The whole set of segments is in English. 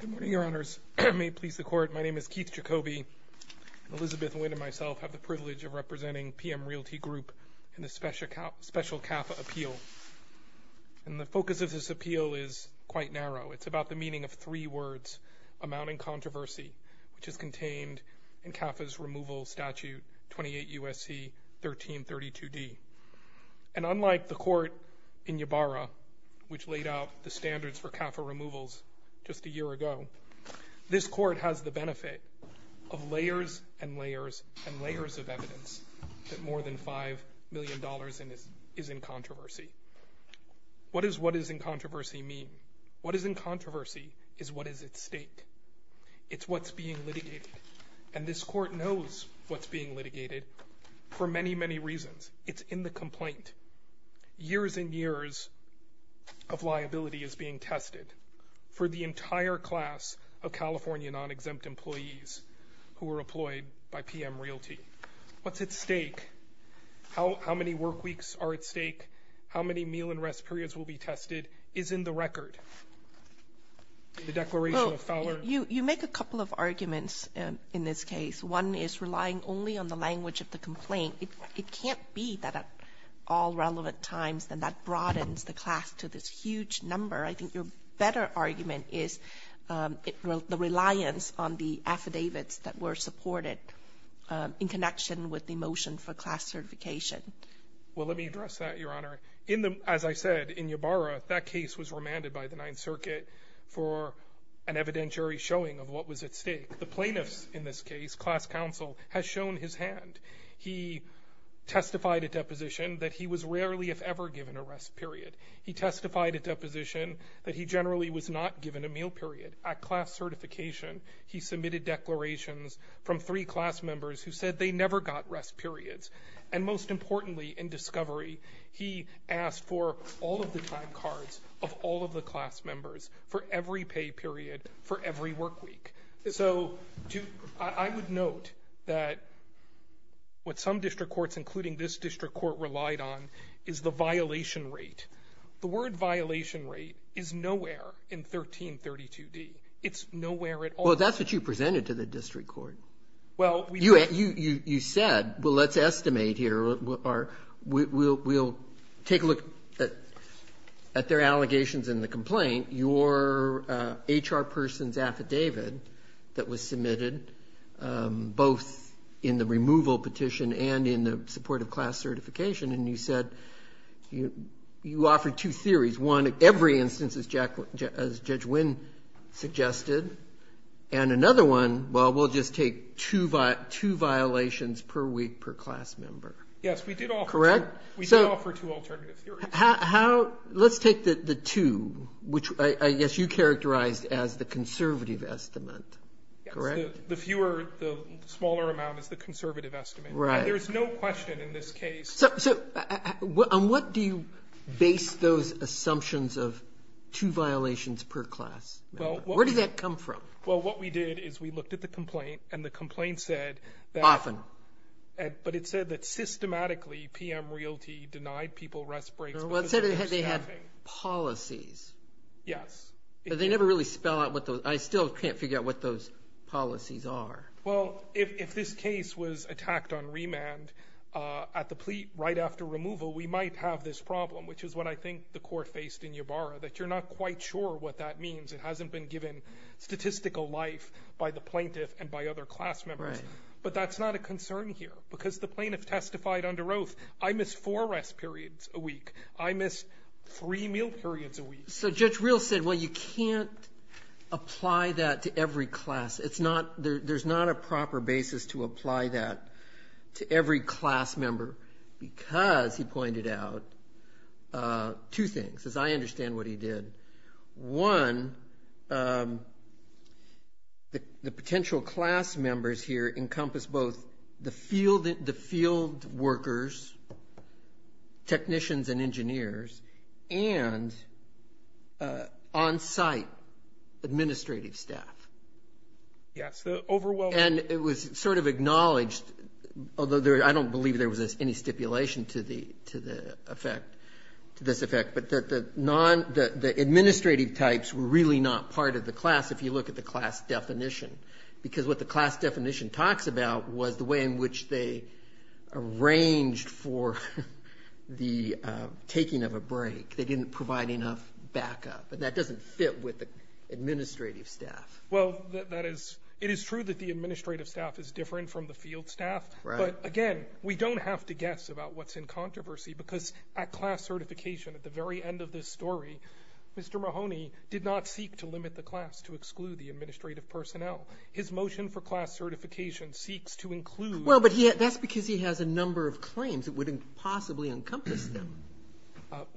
Good morning, Your Honors. May it please the Court, my name is Keith Jacobi, and Elizabeth Wynne and myself have the privilege of representing PM Realty Group in this special CAFA appeal. And the focus of this appeal is quite narrow. It's about the meaning of three words, amounting controversy, which is contained in CAFA's removal statute, 28 U.S.C. 1332D. And unlike the court in Ybarra, which laid out the standards for CAFA removals just a year ago, this court has the benefit of layers and layers and layers of evidence that more than $5 million is in controversy. What does what is in controversy mean? What is in controversy is what is at stake. It's what's being litigated. And this court knows what's being litigated for many, many reasons. It's in the complaint. Years and years of liability is being tested for the entire class of California non-exempt employees who are employed by PM Realty. What's at stake? How many work weeks are at stake? How many meal and rest periods will be tested is in the record. The declaration of failure. You make a couple of arguments in this case. One is relying only on the language of the It can't be that at all relevant times, then that broadens the class to this huge number. I think your better argument is the reliance on the affidavits that were supported in connection with the motion for class certification. Well, let me address that, Your Honor. In the, as I said, in Ybarra, that case was remanded by the Ninth Circuit for an evidentiary showing of what was at stake. The plaintiffs in this case, class counsel, has shown his hand. He testified at deposition that he was rarely, if ever, given a rest period. He testified at deposition that he generally was not given a meal period. At class certification, he submitted declarations from three class members who said they never got rest periods. And most importantly, in discovery, he asked for all of the time cards of all of the class members for every pay period, for every work week. So I would note that what some district courts, including this district court, relied on is the violation rate. The word violation rate is nowhere in 1332d. It's nowhere at all. Well, that's what you presented to the district court. Well, we You said, well, let's estimate here, or we'll take a look at their allegations and the complaint, your HR person's affidavit that was submitted, both in the removal petition and in the support of class certification. And you said you offered two theories. One, every instance, as Judge Wynn suggested. And another one, well, we'll just take two violations per week per class member. Yes, we did offer Correct? We did offer two alternative theories. Let's take the two, which I guess you characterized as the conservative estimate, correct? The fewer, the smaller amount is the conservative estimate. Right. There's no question in this case. So on what do you base those assumptions of two violations per class? Where did that come from? Well, what we did is we looked at the complaint and the complaint said that Often But it said that systematically PM Realty denied people rest breaks Well, it said they had policies. Yes. They never really spell out what those, I still can't figure out what those policies are. Well, if this case was attacked on remand at the plea right after removal, we might have this problem, which is what I think the court faced in Ybarra, that you're not quite sure what that means. It hasn't been given statistical life by the plaintiff and by other class members. But that's not a concern here because the plaintiff testified under oath. I miss four rest periods a week. I miss three meal periods a week. So Judge Real said, well, you can't apply that to every class. It's not, there's not a proper basis to apply that to every class member because he pointed out two things, as I understand what he did. One, the potential class members here encompass both the field workers, technicians and engineers, and on-site administrative staff. Yes, the overwhelming. And it was sort of acknowledged, although I don't believe there was any stipulation to the effect, to this effect, that the administrative types were really not part of the class if you look at the class definition. Because what the class definition talks about was the way in which they arranged for the taking of a break. They didn't provide enough backup. And that doesn't fit with the administrative staff. Well, that is, it is true that the administrative staff is different from the field staff. Right. But, again, we don't have to guess about what's in controversy because at class certification, at the very end of this story, Mr. Mahoney did not seek to limit the class to exclude the administrative personnel. His motion for class certification seeks to include. Well, but that's because he has a number of claims that would impossibly encompass them.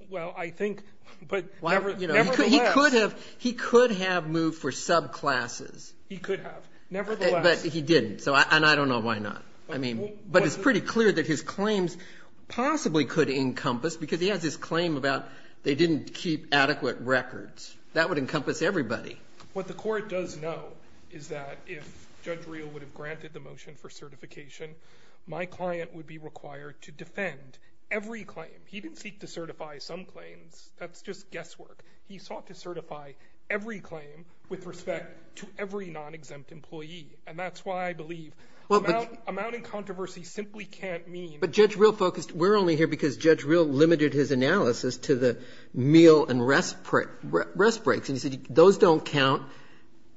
Well, I think, but nevertheless. He could have moved for subclasses. He could have, nevertheless. But he didn't. And I don't know why not. I mean, but it's pretty clear that his claims possibly could encompass because he has this claim about they didn't keep adequate records. That would encompass everybody. What the Court does know is that if Judge Reel would have granted the motion for certification, my client would be required to defend every claim. He didn't seek to certify some claims. That's just guesswork. He sought to certify every claim with respect to every non-exempt employee. And that's why I believe amounting controversy simply can't mean. But Judge Reel focused. We're only here because Judge Reel limited his analysis to the meal and rest breaks. And he said those don't count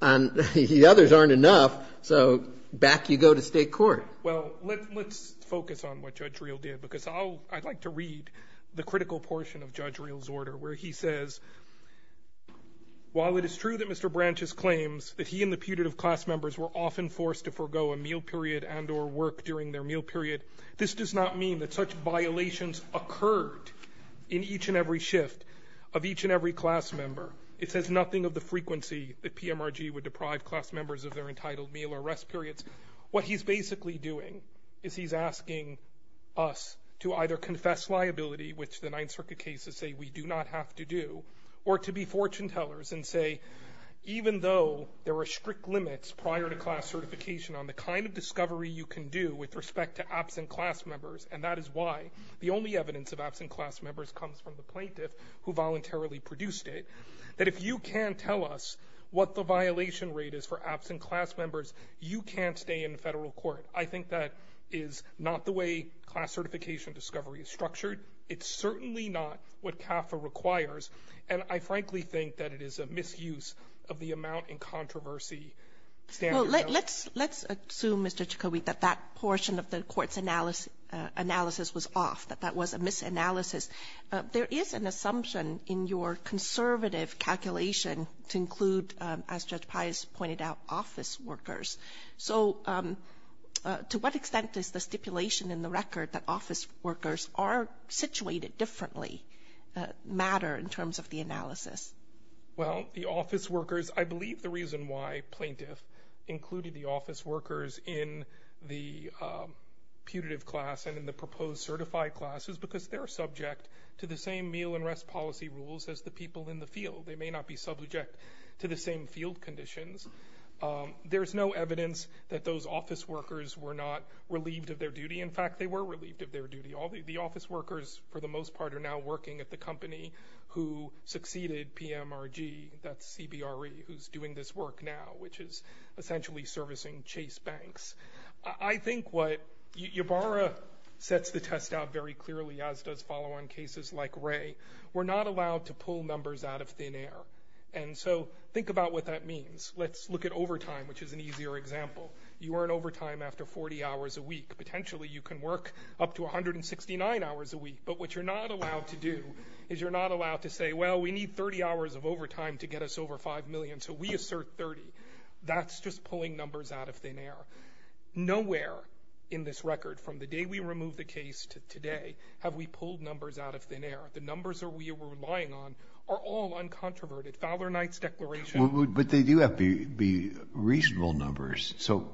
and the others aren't enough, so back you go to State court. Well, let's focus on what Judge Reel did because I'd like to read the critical portion of Judge Reel's order where he says, While it is true that Mr. Branches claims that he and the putative class members were often forced to forego a meal period and or work during their meal period, this does not mean that such violations occurred in each and every shift of each and every class member. It says nothing of the frequency that PMRG would deprive class members of their entitled meal or rest periods. What he's basically doing is he's asking us to either confess liability, which the Ninth Circuit cases say we do not have to do, or to be fortune tellers and say, even though there are strict limits prior to class certification on the kind of discovery you can do with respect to absent class members, and that is why the only evidence of absent class members comes from the plaintiff who voluntarily produced it, that if you can tell us what the violation rate is for absent class members, you can't stay in the Federal court. I think that is not the way class certification discovery is structured. It's certainly not what CAFA requires, and I frankly think that it is a misuse of the amount in controversy standard. Well, let's assume, Mr. Chikowit, that that portion of the Court's analysis was off, that that was a misanalysis. There is an assumption in your conservative calculation to include, as Judge Pius pointed out, office workers. So to what extent does the stipulation in the record that office workers are situated differently matter in terms of the analysis? Well, the office workers, I believe the reason why plaintiff included the office workers in the putative class and in the proposed certified class is because they're subject to the same meal and rest policy rules as the people in the field. They may not be subject to the same field conditions. There's no evidence that those office workers were not relieved of their duty. In fact, they were relieved of their duty. The office workers, for the most part, are now working at the company who succeeded PMRG, that's CBRE, who's doing this work now, which is essentially servicing Chase Banks. I think what Ybarra sets the test out very clearly, as does follow on cases like Ray, we're not allowed to pull numbers out of thin air. And so think about what that means. Let's look at overtime, which is an easier example. You earn overtime after 40 hours a week. Potentially you can work up to 169 hours a week. But what you're not allowed to do is you're not allowed to say, well, we need 30 hours of overtime to get us over 5 million, so we assert 30. That's just pulling numbers out of thin air. Nowhere in this record, from the day we removed the case to today, have we pulled numbers out of thin air. The numbers that we were relying on are all uncontroverted. Fowler-Knight's declaration. But they do have to be reasonable numbers. So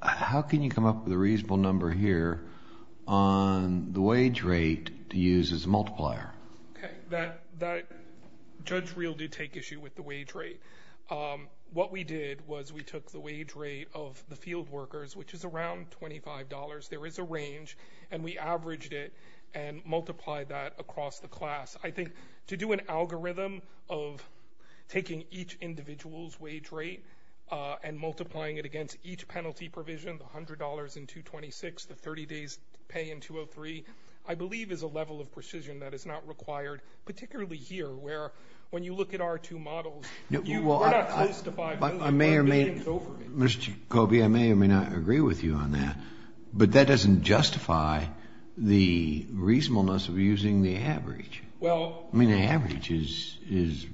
how can you come up with a reasonable number here on the wage rate to use as a multiplier? Okay. Judge Reel did take issue with the wage rate. What we did was we took the wage rate of the field workers, which is around $25. There is a range. And we averaged it and multiplied that across the class. I think to do an algorithm of taking each individual's wage rate and multiplying it against each penalty provision, $100 in 226, the 30 days pay in 203, I believe is a level of precision that is not required, particularly here where when you look at our two models, we're not close to 5 million. Mr. Kobe, I may or may not agree with you on that, but that doesn't justify the reasonableness of using the average. I mean, the average is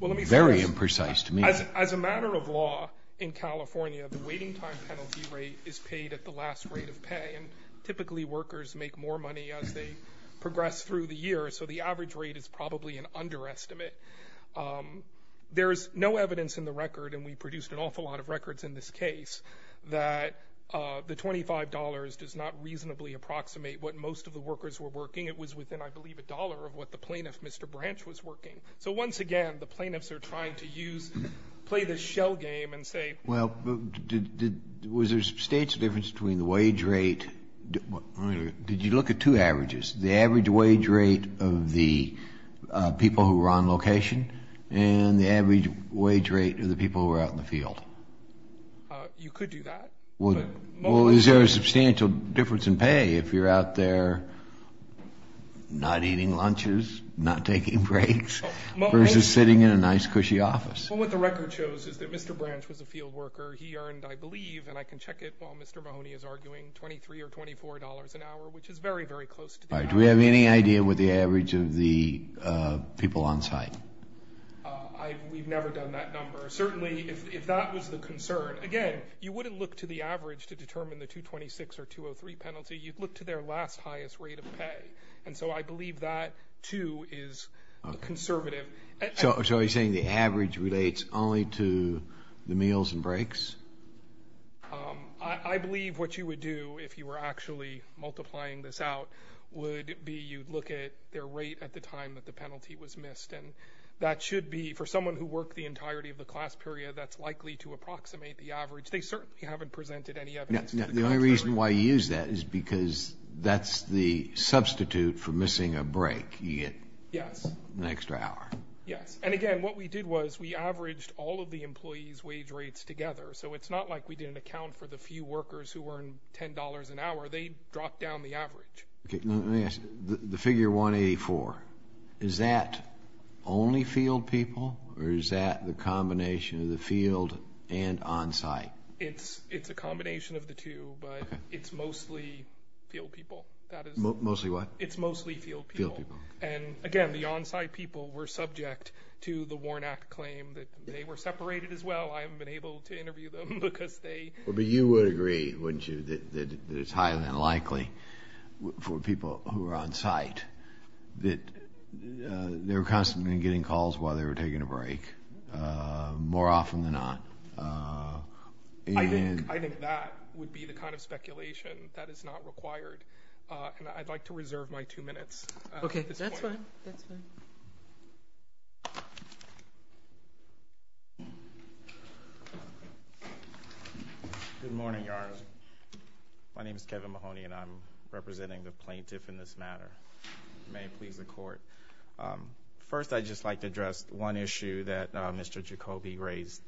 very imprecise to me. As a matter of law in California, the waiting time penalty rate is paid at the last rate of pay. And typically workers make more money as they progress through the year. So the average rate is probably an underestimate. There is no evidence in the record, and we produced an awful lot of records in this case, that the $25 does not reasonably approximate what most of the workers were working. It was within, I believe, a dollar of what the plaintiff, Mr. Branch, was working. So once again, the plaintiffs are trying to use, play this shell game and say ---- of the people who were on location and the average wage rate of the people who were out in the field. You could do that. Well, is there a substantial difference in pay if you're out there not eating lunches, not taking breaks, versus sitting in a nice, cushy office? Well, what the record shows is that Mr. Branch was a field worker. He earned, I believe, and I can check it while Mr. Mahoney is arguing, $23 or $24 an hour, which is very, very close to the average. All right. Do we have any idea what the average of the people on site? We've never done that number. Certainly, if that was the concern, again, you wouldn't look to the average to determine the $226 or $203 penalty. You'd look to their last highest rate of pay. And so I believe that, too, is conservative. So are you saying the average relates only to the meals and breaks? I believe what you would do, if you were actually multiplying this out, would be you'd look at their rate at the time that the penalty was missed. And that should be, for someone who worked the entirety of the class period, that's likely to approximate the average. They certainly haven't presented any evidence to the contrary. The only reason why you use that is because that's the substitute for missing a break. You get an extra hour. Yes. And, again, what we did was we averaged all of the employees' wage rates together. So it's not like we did an account for the few workers who earned $10 an hour. They dropped down the average. Let me ask you. The figure 184, is that only field people or is that the combination of the field and on site? It's a combination of the two, but it's mostly field people. Mostly what? It's mostly field people. Field people. And, again, the on site people were subject to the Warren Act claim that they were separated as well. I haven't been able to interview them because they. But you would agree, wouldn't you, that it's highly unlikely for people who are on site that they're constantly getting calls while they were taking a break, more often than not. I think that would be the kind of speculation that is not required. And I'd like to reserve my two minutes at this point. That's fine, that's fine. Good morning, Your Honor. My name is Kevin Mahoney and I'm representing the plaintiff in this matter. May it please the court. First, I'd just like to address one issue that Mr. Jacoby raised.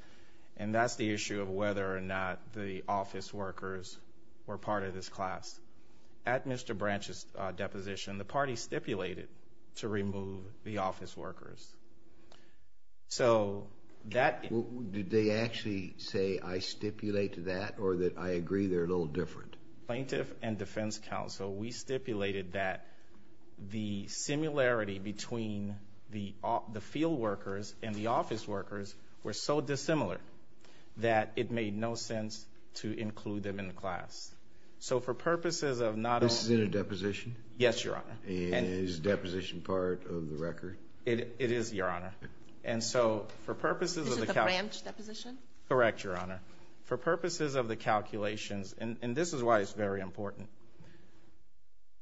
And that's the issue of whether or not the office workers were part of this class. At Mr. Branch's deposition, the party stipulated to remove the office workers. So that. Did they actually say I stipulate that or that I agree they're a little different? Plaintiff and defense counsel, we stipulated that the similarity between the field workers and the office workers were so dissimilar that it made no sense to include them in the class. So for purposes of not only. This is in a deposition? Yes, Your Honor. And is deposition part of the record? It is, Your Honor. And so for purposes of the. This is the Branch deposition? Correct, Your Honor. For purposes of the calculations, and this is why it's very important.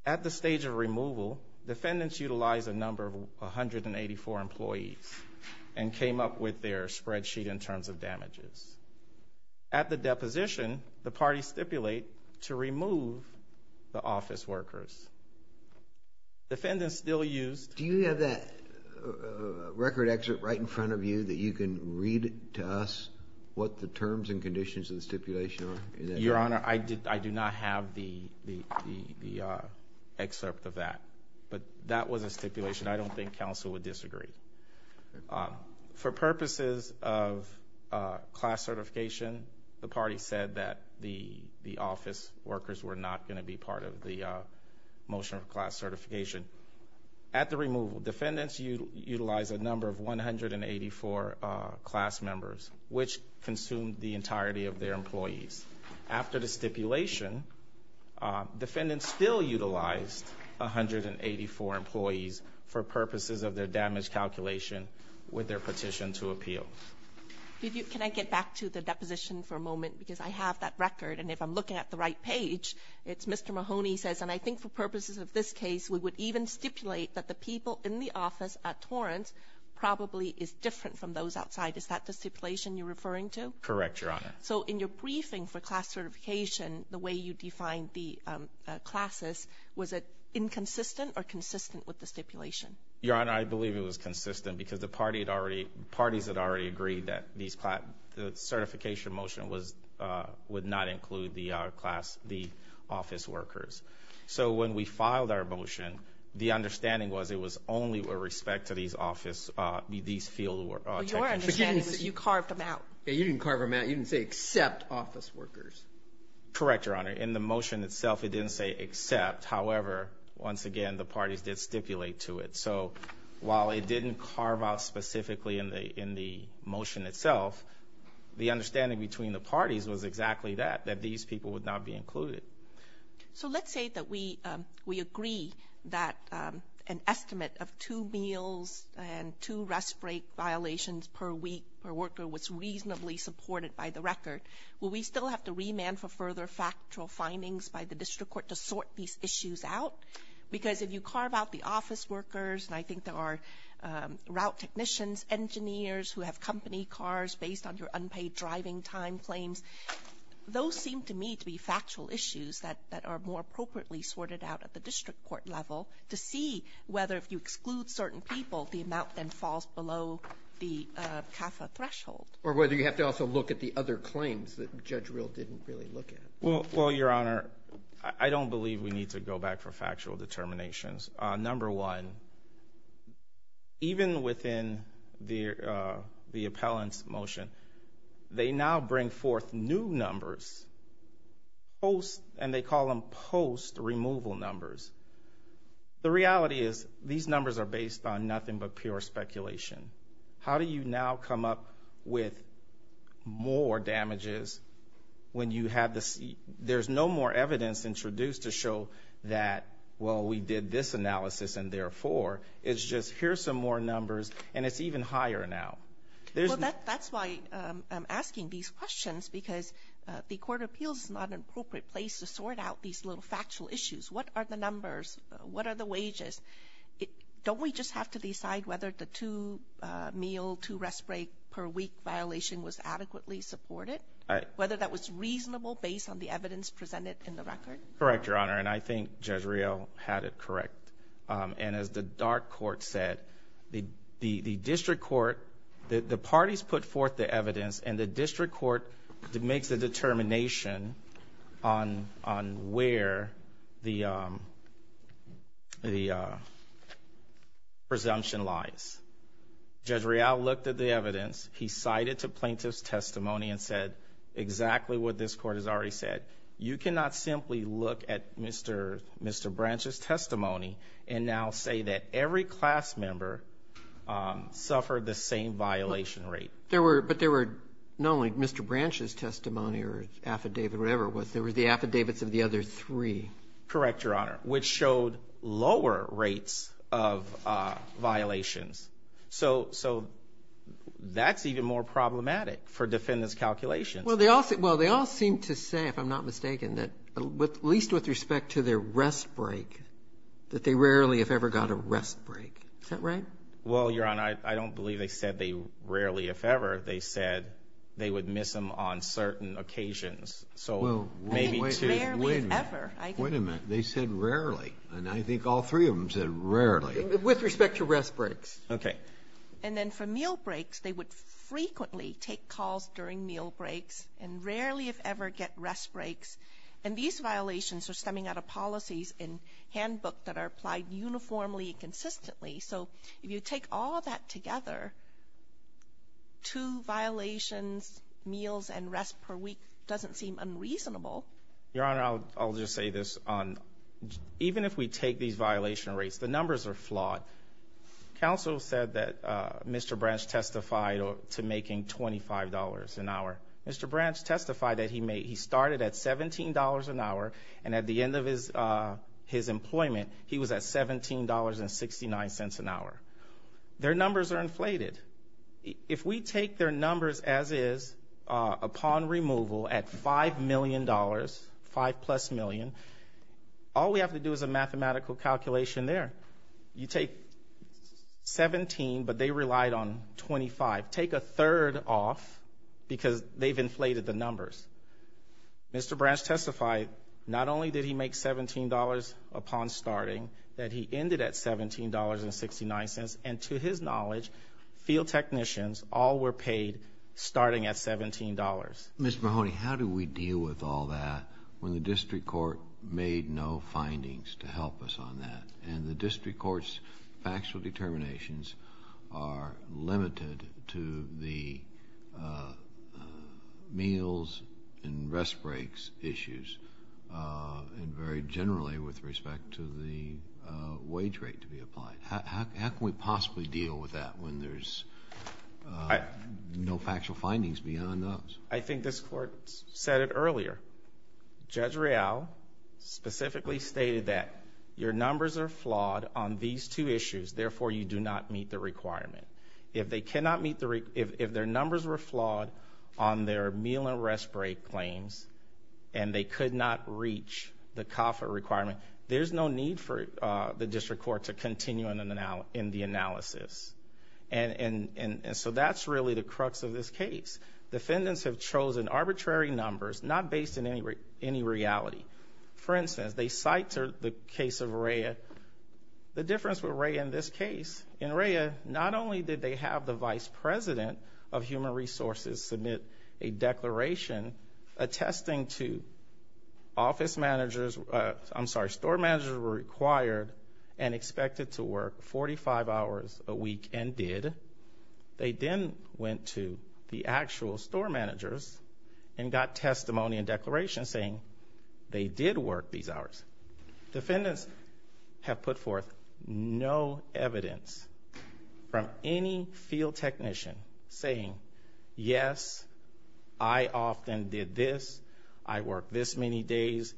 At the stage of removal, defendants utilized a number of 184 employees and came up with their spreadsheet in terms of damages. At the deposition, the party stipulate to remove the office workers. Defendants still used. Do you have that record excerpt right in front of you that you can read to us what the terms and conditions of the stipulation are? Your Honor, I do not have the excerpt of that, but that was a stipulation. I don't think counsel would disagree. For purposes of class certification, the party said that the office workers were not going to be part of the motion of class certification. At the removal, defendants utilized a number of 184 class members, which consumed the entirety of their employees. After the stipulation, defendants still utilized 184 employees for purposes of their damage calculation with their petition to appeal. Can I get back to the deposition for a moment? Because I have that record, and if I'm looking at the right page, it's Mr. Mahoney says, and I think for purposes of this case, we would even stipulate that the people in the office at Torrance probably is different from those outside. Is that the stipulation you're referring to? Correct, Your Honor. So in your briefing for class certification, the way you defined the classes, was it inconsistent or consistent with the stipulation? Your Honor, I believe it was consistent because the parties had already agreed that the certification motion would not include the office workers. So when we filed our motion, the understanding was it was only with respect to these field workers. Your understanding was you carved them out. You didn't carve them out. You didn't say except office workers. Correct, Your Honor. In the motion itself, it didn't say except. However, once again, the parties did stipulate to it. So while it didn't carve out specifically in the motion itself, the understanding between the parties was exactly that, that these people would not be included. So let's say that we agree that an estimate of two meals and two rest break violations per week per worker was reasonably supported by the record. Will we still have to remand for further factual findings by the district court to sort these issues out? Because if you carve out the office workers, and I think there are route technicians, engineers who have company cars based on your unpaid driving time claims, those seem to me to be factual issues that are more appropriately sorted out at the district court level to see whether if you exclude certain people, the amount then falls below the CAFA threshold. Or whether you have to also look at the other claims that Judge Rill didn't really look at. Well, Your Honor, I don't believe we need to go back for factual determinations. Number one, even within the appellant's motion, they now bring forth new numbers, and they call them post-removal numbers. The reality is these numbers are based on nothing but pure speculation. How do you now come up with more damages when you have this? There's no more evidence introduced to show that, well, we did this analysis, and therefore, it's just here's some more numbers, and it's even higher now. Well, that's why I'm asking these questions, because the Court of Appeals is not an appropriate place to sort out these little factual issues. What are the numbers? What are the wages? Don't we just have to decide whether the two meal, two rest break per week violation was adequately supported? Whether that was reasonable based on the evidence presented in the record? Correct, Your Honor, and I think Judge Rill had it correct. And as the dark court said, the district court, the parties put forth the evidence, and the district court makes the determination on where the presumption lies. Judge Rill looked at the evidence. He cited the plaintiff's testimony and said exactly what this court has already said. You cannot simply look at Mr. Branch's testimony and now say that every class member suffered the same violation rate. But there were not only Mr. Branch's testimony or affidavit or whatever it was. There were the affidavits of the other three. Correct, Your Honor, which showed lower rates of violations. So that's even more problematic for defendants' calculations. Well, they all seem to say, if I'm not mistaken, that at least with respect to their rest break, that they rarely, if ever, got a rest break. Is that right? Well, Your Honor, I don't believe they said they rarely, if ever. They said they would miss them on certain occasions. So maybe two. Wait a minute. Wait a minute. They said rarely, and I think all three of them said rarely. With respect to rest breaks. Okay. And then for meal breaks, they would frequently take calls during meal breaks and rarely, if ever, get rest breaks. And these violations are stemming out of policies in handbook that are applied uniformly and consistently. So if you take all that together, two violations, meals, and rest per week doesn't seem unreasonable. Your Honor, I'll just say this. Even if we take these violation rates, the numbers are flawed. Counsel said that Mr. Branch testified to making $25 an hour. Mr. Branch testified that he started at $17 an hour, and at the end of his employment, he was at $17.69 an hour. Their numbers are inflated. If we take their numbers as is upon removal at $5 million, 5 plus million, all we have to do is a mathematical calculation there. You take 17, but they relied on 25. Take a third off because they've inflated the numbers. Mr. Branch testified not only did he make $17 upon starting, that he ended at $17.69, and to his knowledge, field technicians all were paid starting at $17. Ms. Mahoney, how do we deal with all that when the district court made no findings to help us on that? And the district court's factual determinations are limited to the meals and rest breaks issues, and very generally with respect to the wage rate to be applied. How can we possibly deal with that when there's no factual findings beyond those? I think this court said it earlier. Judge Real specifically stated that your numbers are flawed on these two issues. Therefore, you do not meet the requirement. If their numbers were flawed on their meal and rest break claims and they could not reach the COFA requirement, there's no need for the district court to continue in the analysis. And so that's really the crux of this case. Defendants have chosen arbitrary numbers not based in any reality. For instance, they cite the case of Rhea. The difference with Rhea in this case, in Rhea, not only did they have the vice president of human resources submit a declaration attesting to office managers, I'm sorry, store managers were required and expected to work 45 hours a week and did. They then went to the actual store managers and got testimony and declarations saying they did work these hours. Defendants have put forth no evidence from any field technician saying, yes, I often did this. I worked this many days.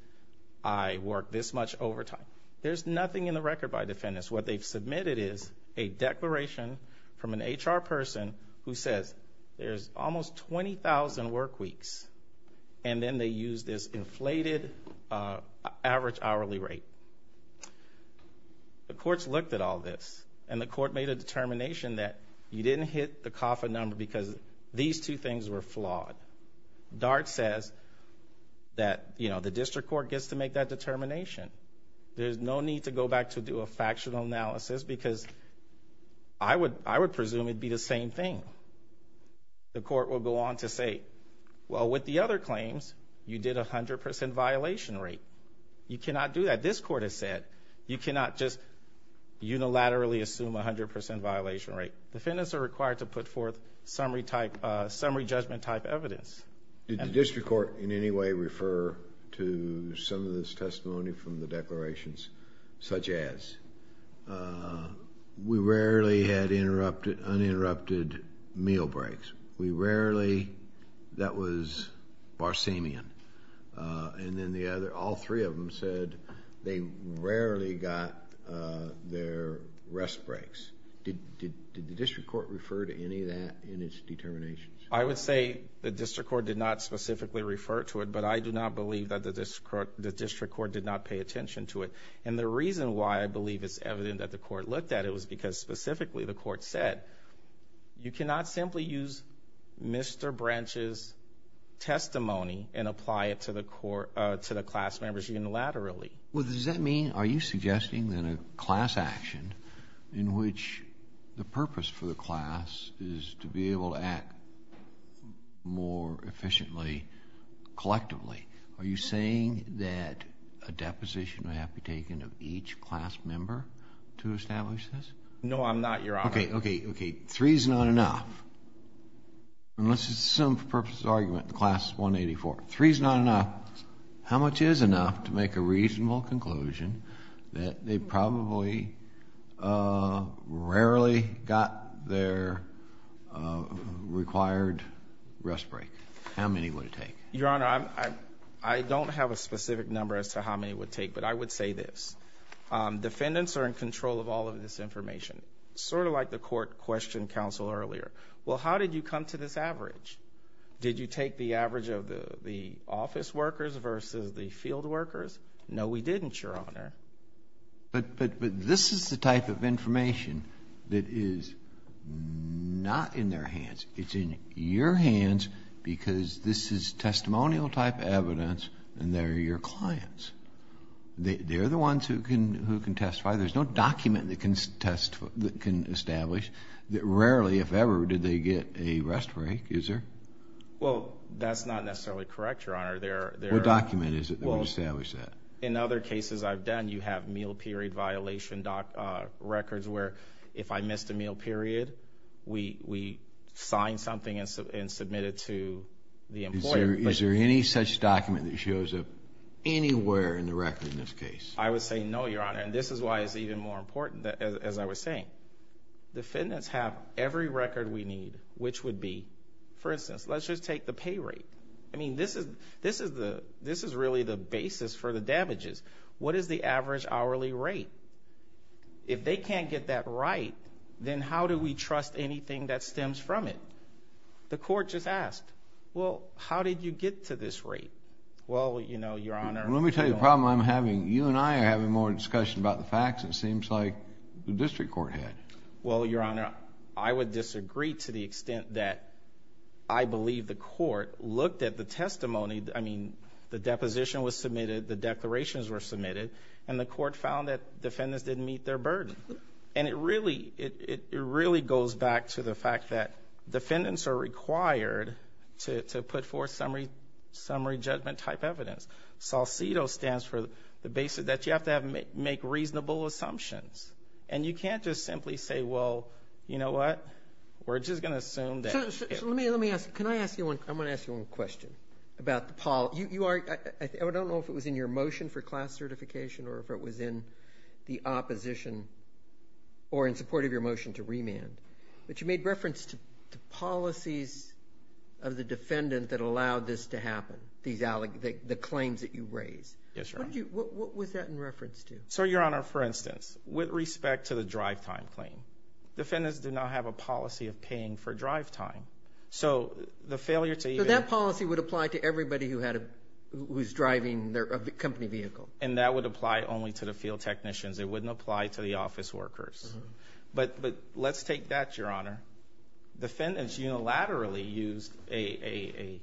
I worked this much overtime. There's nothing in the record by defendants. What they've submitted is a declaration from an HR person who says there's almost 20,000 work weeks. And then they use this inflated average hourly rate. The courts looked at all this, and the court made a determination that you didn't hit the COFA number because these two things were flawed. DART says that, you know, the district court gets to make that determination. There's no need to go back to do a factional analysis because I would presume it'd be the same thing. The court will go on to say, well, with the other claims, you did a 100% violation rate. You cannot do that. This court has said you cannot just unilaterally assume a 100% violation rate. Defendants are required to put forth summary judgment type evidence. Did the district court in any way refer to some of this testimony from the declarations such as, we rarely had uninterrupted meal breaks. We rarely, that was Barsamian. And then the other, all three of them said they rarely got their rest breaks. Did the district court refer to any of that in its determinations? I would say the district court did not specifically refer to it, but I do not believe that the district court did not pay attention to it. And the reason why I believe it's evident that the court looked at it was because specifically the court said, you cannot simply use Mr. Branch's testimony and apply it to the class members unilaterally. Well, does that mean, are you suggesting then a class action in which the purpose for the class is to be able to act more efficiently collectively? Are you saying that a deposition would have to be taken of each class member to establish this? No, I'm not, Your Honor. Okay, okay, okay. Three is not enough. And let's assume for purposes of argument the class is 184. Three is not enough. How much is enough to make a reasonable conclusion that they probably rarely got their required rest break? How many would it take? Your Honor, I don't have a specific number as to how many it would take, but I would say this. Defendants are in control of all of this information, sort of like the court questioned counsel earlier. Well, how did you come to this average? Did you take the average of the office workers versus the field workers? No, we didn't, Your Honor. But this is the type of information that is not in their hands. It's in your hands because this is testimonial type evidence and they're your clients. They're the ones who can testify. There's no document that can establish that rarely, if ever, did they get a rest break, is there? Well, that's not necessarily correct, Your Honor. What document is it that would establish that? In other cases I've done, you have meal period violation records where if I missed a meal period, we sign something and submit it to the employer. Is there any such document that shows up anywhere in the record in this case? I would say no, Your Honor, and this is why it's even more important, as I was saying. Defendants have every record we need, which would be, for instance, let's just take the pay rate. I mean, this is really the basis for the damages. What is the average hourly rate? If they can't get that right, then how do we trust anything that stems from it? The court just asked, well, how did you get to this rate? Well, you know, Your Honor. Let me tell you the problem I'm having. You and I are having more discussion about the facts, it seems like, than the district court had. Well, Your Honor, I would disagree to the extent that I believe the court looked at the testimony. I mean, the deposition was submitted, the declarations were submitted, and the court found that defendants didn't meet their burden. And it really goes back to the fact that defendants are required to put forth summary judgment type evidence. SALCEDO stands for the basis that you have to make reasonable assumptions. And you can't just simply say, well, you know what, we're just going to assume that. Let me ask you one question about the policy. I don't know if it was in your motion for class certification or if it was in the opposition or in support of your motion to remand, but you made reference to policies of the defendant that allowed this to happen, the claims that you raised. Yes, Your Honor. What was that in reference to? So, Your Honor, for instance, with respect to the drive time claim, defendants did not have a policy of paying for drive time. So the failure to even – So that policy would apply to everybody who had a – who was driving their company vehicle. And that would apply only to the field technicians. It wouldn't apply to the office workers. But let's take that, Your Honor. Defendants unilaterally used a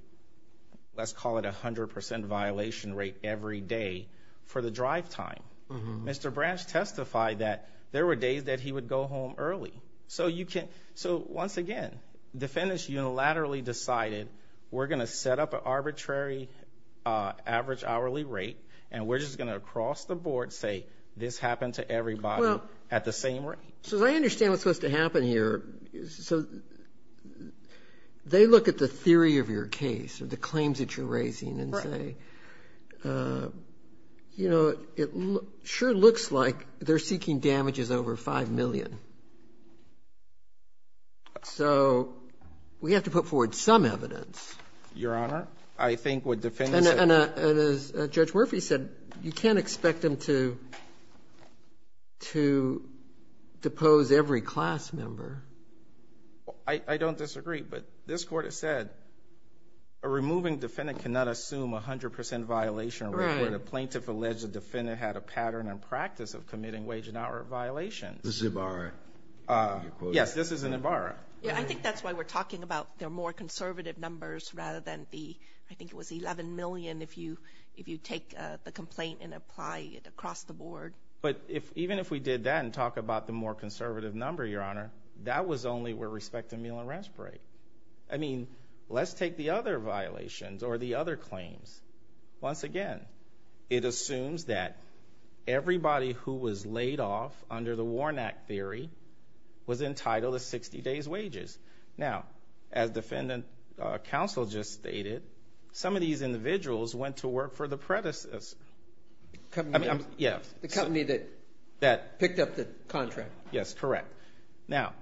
– let's call it a 100 percent violation rate every day for the drive time. Mr. Branch testified that there were days that he would go home early. So you can – so, once again, defendants unilaterally decided we're going to set up an arbitrary average hourly rate and we're just going to, across the board, say this happened to everybody at the same rate. So I understand what's supposed to happen here. So they look at the theory of your case or the claims that you're raising and say, you know, it sure looks like they're seeking damages over 5 million. So we have to put forward some evidence. Your Honor, I think what defendants – And as Judge Murphy said, you can't expect them to depose every class member. I don't disagree, but this Court has said a removing defendant cannot assume a 100 percent violation rate. Right. Where the plaintiff alleged the defendant had a pattern and practice of committing wage and hour violations. This is Ibarra. Yes, this is Ibarra. I think that's why we're talking about the more conservative numbers rather than the – I think it was 11 million if you take the complaint and apply it across the board. But even if we did that and talk about the more conservative number, Your Honor, that was only with respect to meal and rest break. I mean, let's take the other violations or the other claims. Once again, it assumes that everybody who was laid off under the Warnack Theory was entitled to 60 days wages. Now, as defendant counsel just stated, some of these individuals went to work for the predecessors. The company that picked up the contract. Yes, correct. Now,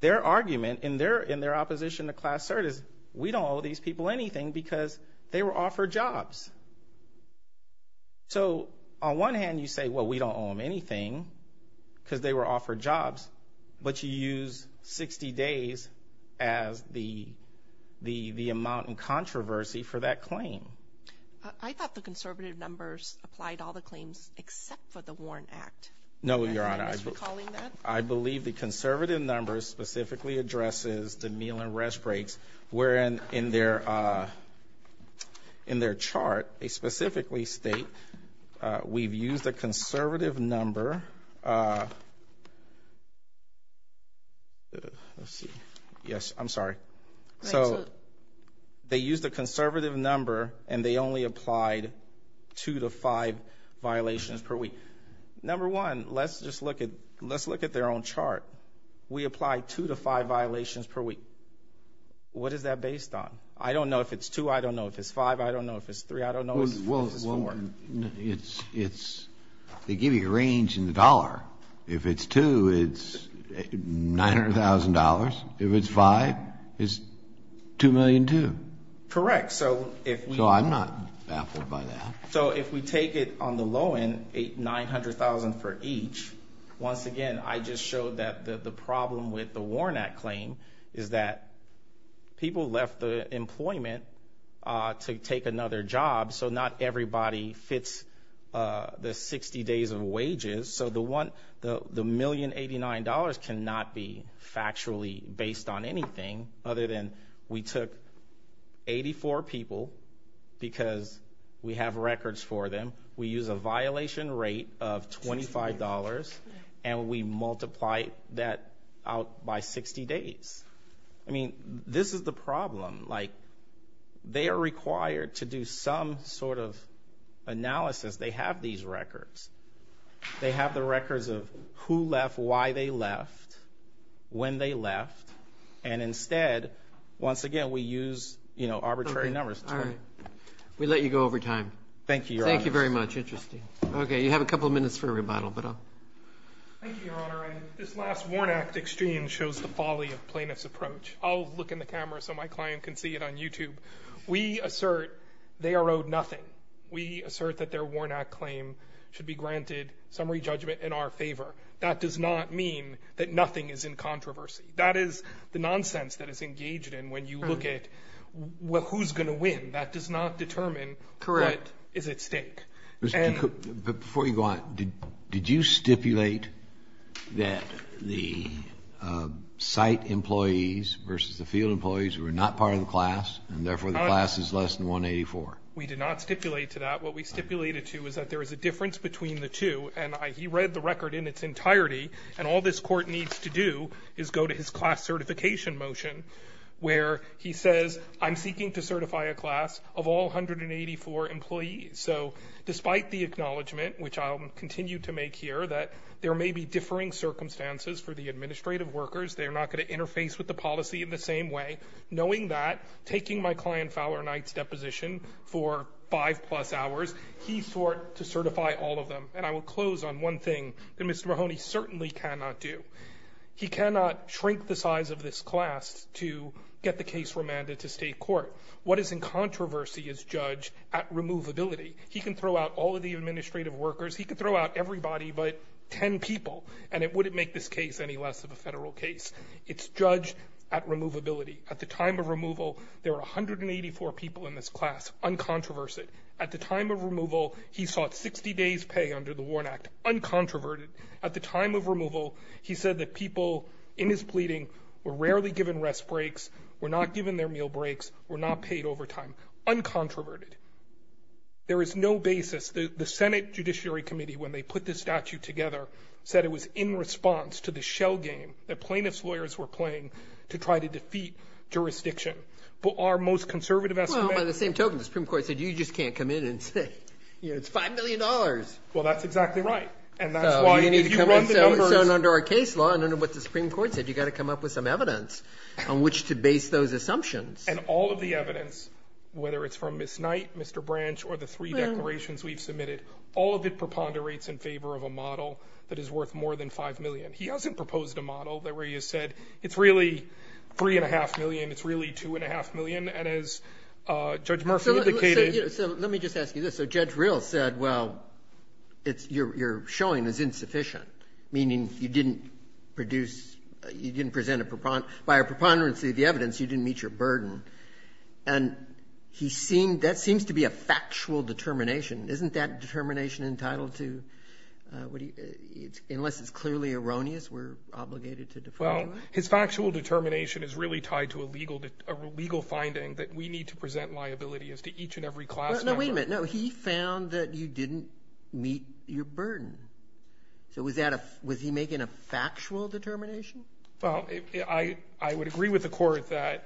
their argument in their opposition to Class Cert is we don't owe these people anything because they were offered jobs. So, on one hand, you say, well, we don't owe them anything because they were offered jobs, but you use 60 days as the amount in controversy for that claim. I thought the conservative numbers applied to all the claims except for the Warn Act. No, Your Honor. I believe the conservative numbers specifically addresses the meal and rest breaks, wherein in their chart they specifically state we've used a conservative number. Let's see. Yes, I'm sorry. So, they used a conservative number and they only applied two to five violations per week. Number one, let's just look at their own chart. We apply two to five violations per week. What is that based on? I don't know if it's two. I don't know if it's five. I don't know if it's three. I don't know if it's four. Well, they give you a range in the dollar. If it's two, it's $900,000. If it's five, it's $2,000,002. Correct. So, I'm not baffled by that. So, if we take it on the low end, $900,000 for each, once again, I just showed that the problem with the Warn Act claim is that people left the employment to take another job, so not everybody fits the 60 days of wages. So, the $1,089,000 cannot be factually based on anything other than we took 84 people because we have records for them. We use a violation rate of $25, and we multiply that out by 60 days. I mean, this is the problem. Like, they are required to do some sort of analysis. They have these records. They have the records of who left, why they left, when they left, and instead, once again, we use, you know, arbitrary numbers. All right. We let you go over time. Thank you, Your Honor. Thank you very much. Interesting. Okay, you have a couple of minutes for a rebuttal. Thank you, Your Honor. This last Warn Act exchange shows the folly of plaintiff's approach. I'll look in the camera so my client can see it on YouTube. We assert they are owed nothing. We assert that their Warn Act claim should be granted summary judgment in our favor. That does not mean that nothing is in controversy. That is the nonsense that is engaged in when you look at who's going to win. That does not determine what is at stake. Before you go on, did you stipulate that the site employees versus the field employees were not part of the class, and therefore the class is less than 184? We did not stipulate to that. What we stipulated to is that there is a difference between the two, and he read the record in its entirety, and all this court needs to do is go to his class certification motion where he says, I'm seeking to certify a class of all 184 employees. So despite the acknowledgment, which I'll continue to make here, that there may be differing circumstances for the administrative workers, they're not going to interface with the policy in the same way, knowing that, taking my client Fowler Knight's deposition for five-plus hours, he sought to certify all of them. And I will close on one thing that Mr. Mahoney certainly cannot do. He cannot shrink the size of this class to get the case remanded to state court. What is in controversy is judged at removability. He can throw out all of the administrative workers. He can throw out everybody but ten people, and it wouldn't make this case any less of a federal case. It's judged at removability. At the time of removal, there were 184 people in this class, uncontroversial. At the time of removal, he sought 60 days' pay under the WARN Act. Uncontroverted. At the time of removal, he said that people in his pleading were rarely given rest breaks, were not given their meal breaks, were not paid overtime. Uncontroverted. There is no basis. The Senate Judiciary Committee, when they put this statute together, said it was in response to the shell game that plaintiffs' lawyers were playing to try to defeat jurisdiction. But our most conservative estimates are the same. The Supreme Court said you just can't come in and say, you know, it's $5 million. Well, that's exactly right. And that's why if you run the numbers. So under our case law, and under what the Supreme Court said, you've got to come up with some evidence on which to base those assumptions. And all of the evidence, whether it's from Ms. Knight, Mr. Branch, or the three declarations we've submitted, all of it preponderates in favor of a model that is worth more than $5 million. He hasn't proposed a model where he has said it's really $3.5 million, it's really $2.5 million, and as Judge Murphy indicated — So let me just ask you this. So Judge Rill said, well, it's — your showing is insufficient, meaning you didn't produce — you didn't present a — by a preponderance of the evidence, you didn't meet your burden. And he seemed — that seems to be a factual determination. Isn't that determination entitled to — unless it's clearly erroneous, we're obligated to defer to him? Well, his factual determination is really tied to a legal — a legal finding that we need to present liability as to each and every class member. No, wait a minute. No, he found that you didn't meet your burden. So was that a — was he making a factual determination? Well, I — I would agree with the Court that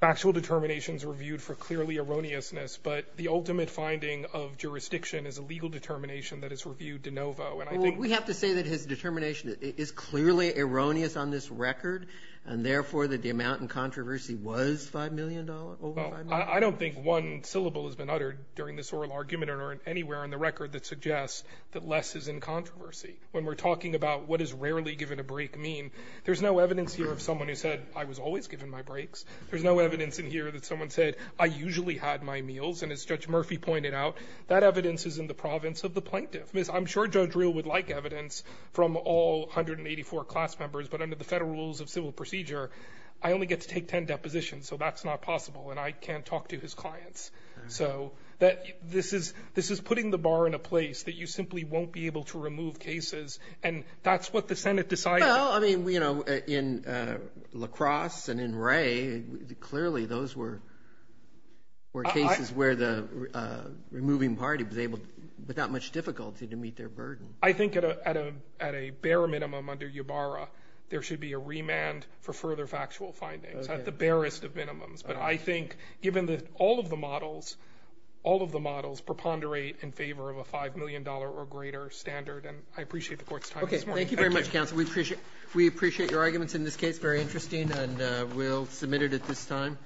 factual determinations are viewed for clearly erroneousness, but the ultimate finding of jurisdiction is a legal determination that is reviewed de novo. Well, we have to say that his determination is clearly erroneous on this record, and therefore that the amount in controversy was $5 million, over $5 million. I don't think one syllable has been uttered during this oral argument or anywhere on the record that suggests that less is in controversy. When we're talking about what is rarely given a break mean, there's no evidence here of someone who said, I was always given my breaks. There's no evidence in here that someone said, I usually had my meals. And as Judge Murphy pointed out, that evidence is in the province of the plaintiff. Ms. — I'm sure Judge Reel would like evidence from all 184 class members, but under the Federal Rules of Civil Procedure, I only get to take 10 depositions, so that's not possible, and I can't talk to his clients. So this is — this is putting the bar in a place that you simply won't be able to remove cases, and that's what the Senate decided. Well, I mean, you know, in La Crosse and in Wray, clearly those were cases where the removing party was able, without much difficulty, to meet their burden. I think at a — at a bare minimum under UBARA, there should be a remand for further factual findings, at the barest of minimums. But I think given that all of the models — all of the models preponderate in favor of a $5 million or greater standard, and I appreciate the Court's time this morning. Thank you. Okay. Thank you very much, counsel. We appreciate — we appreciate your arguments in this case. Very interesting. And we'll submit it at this time.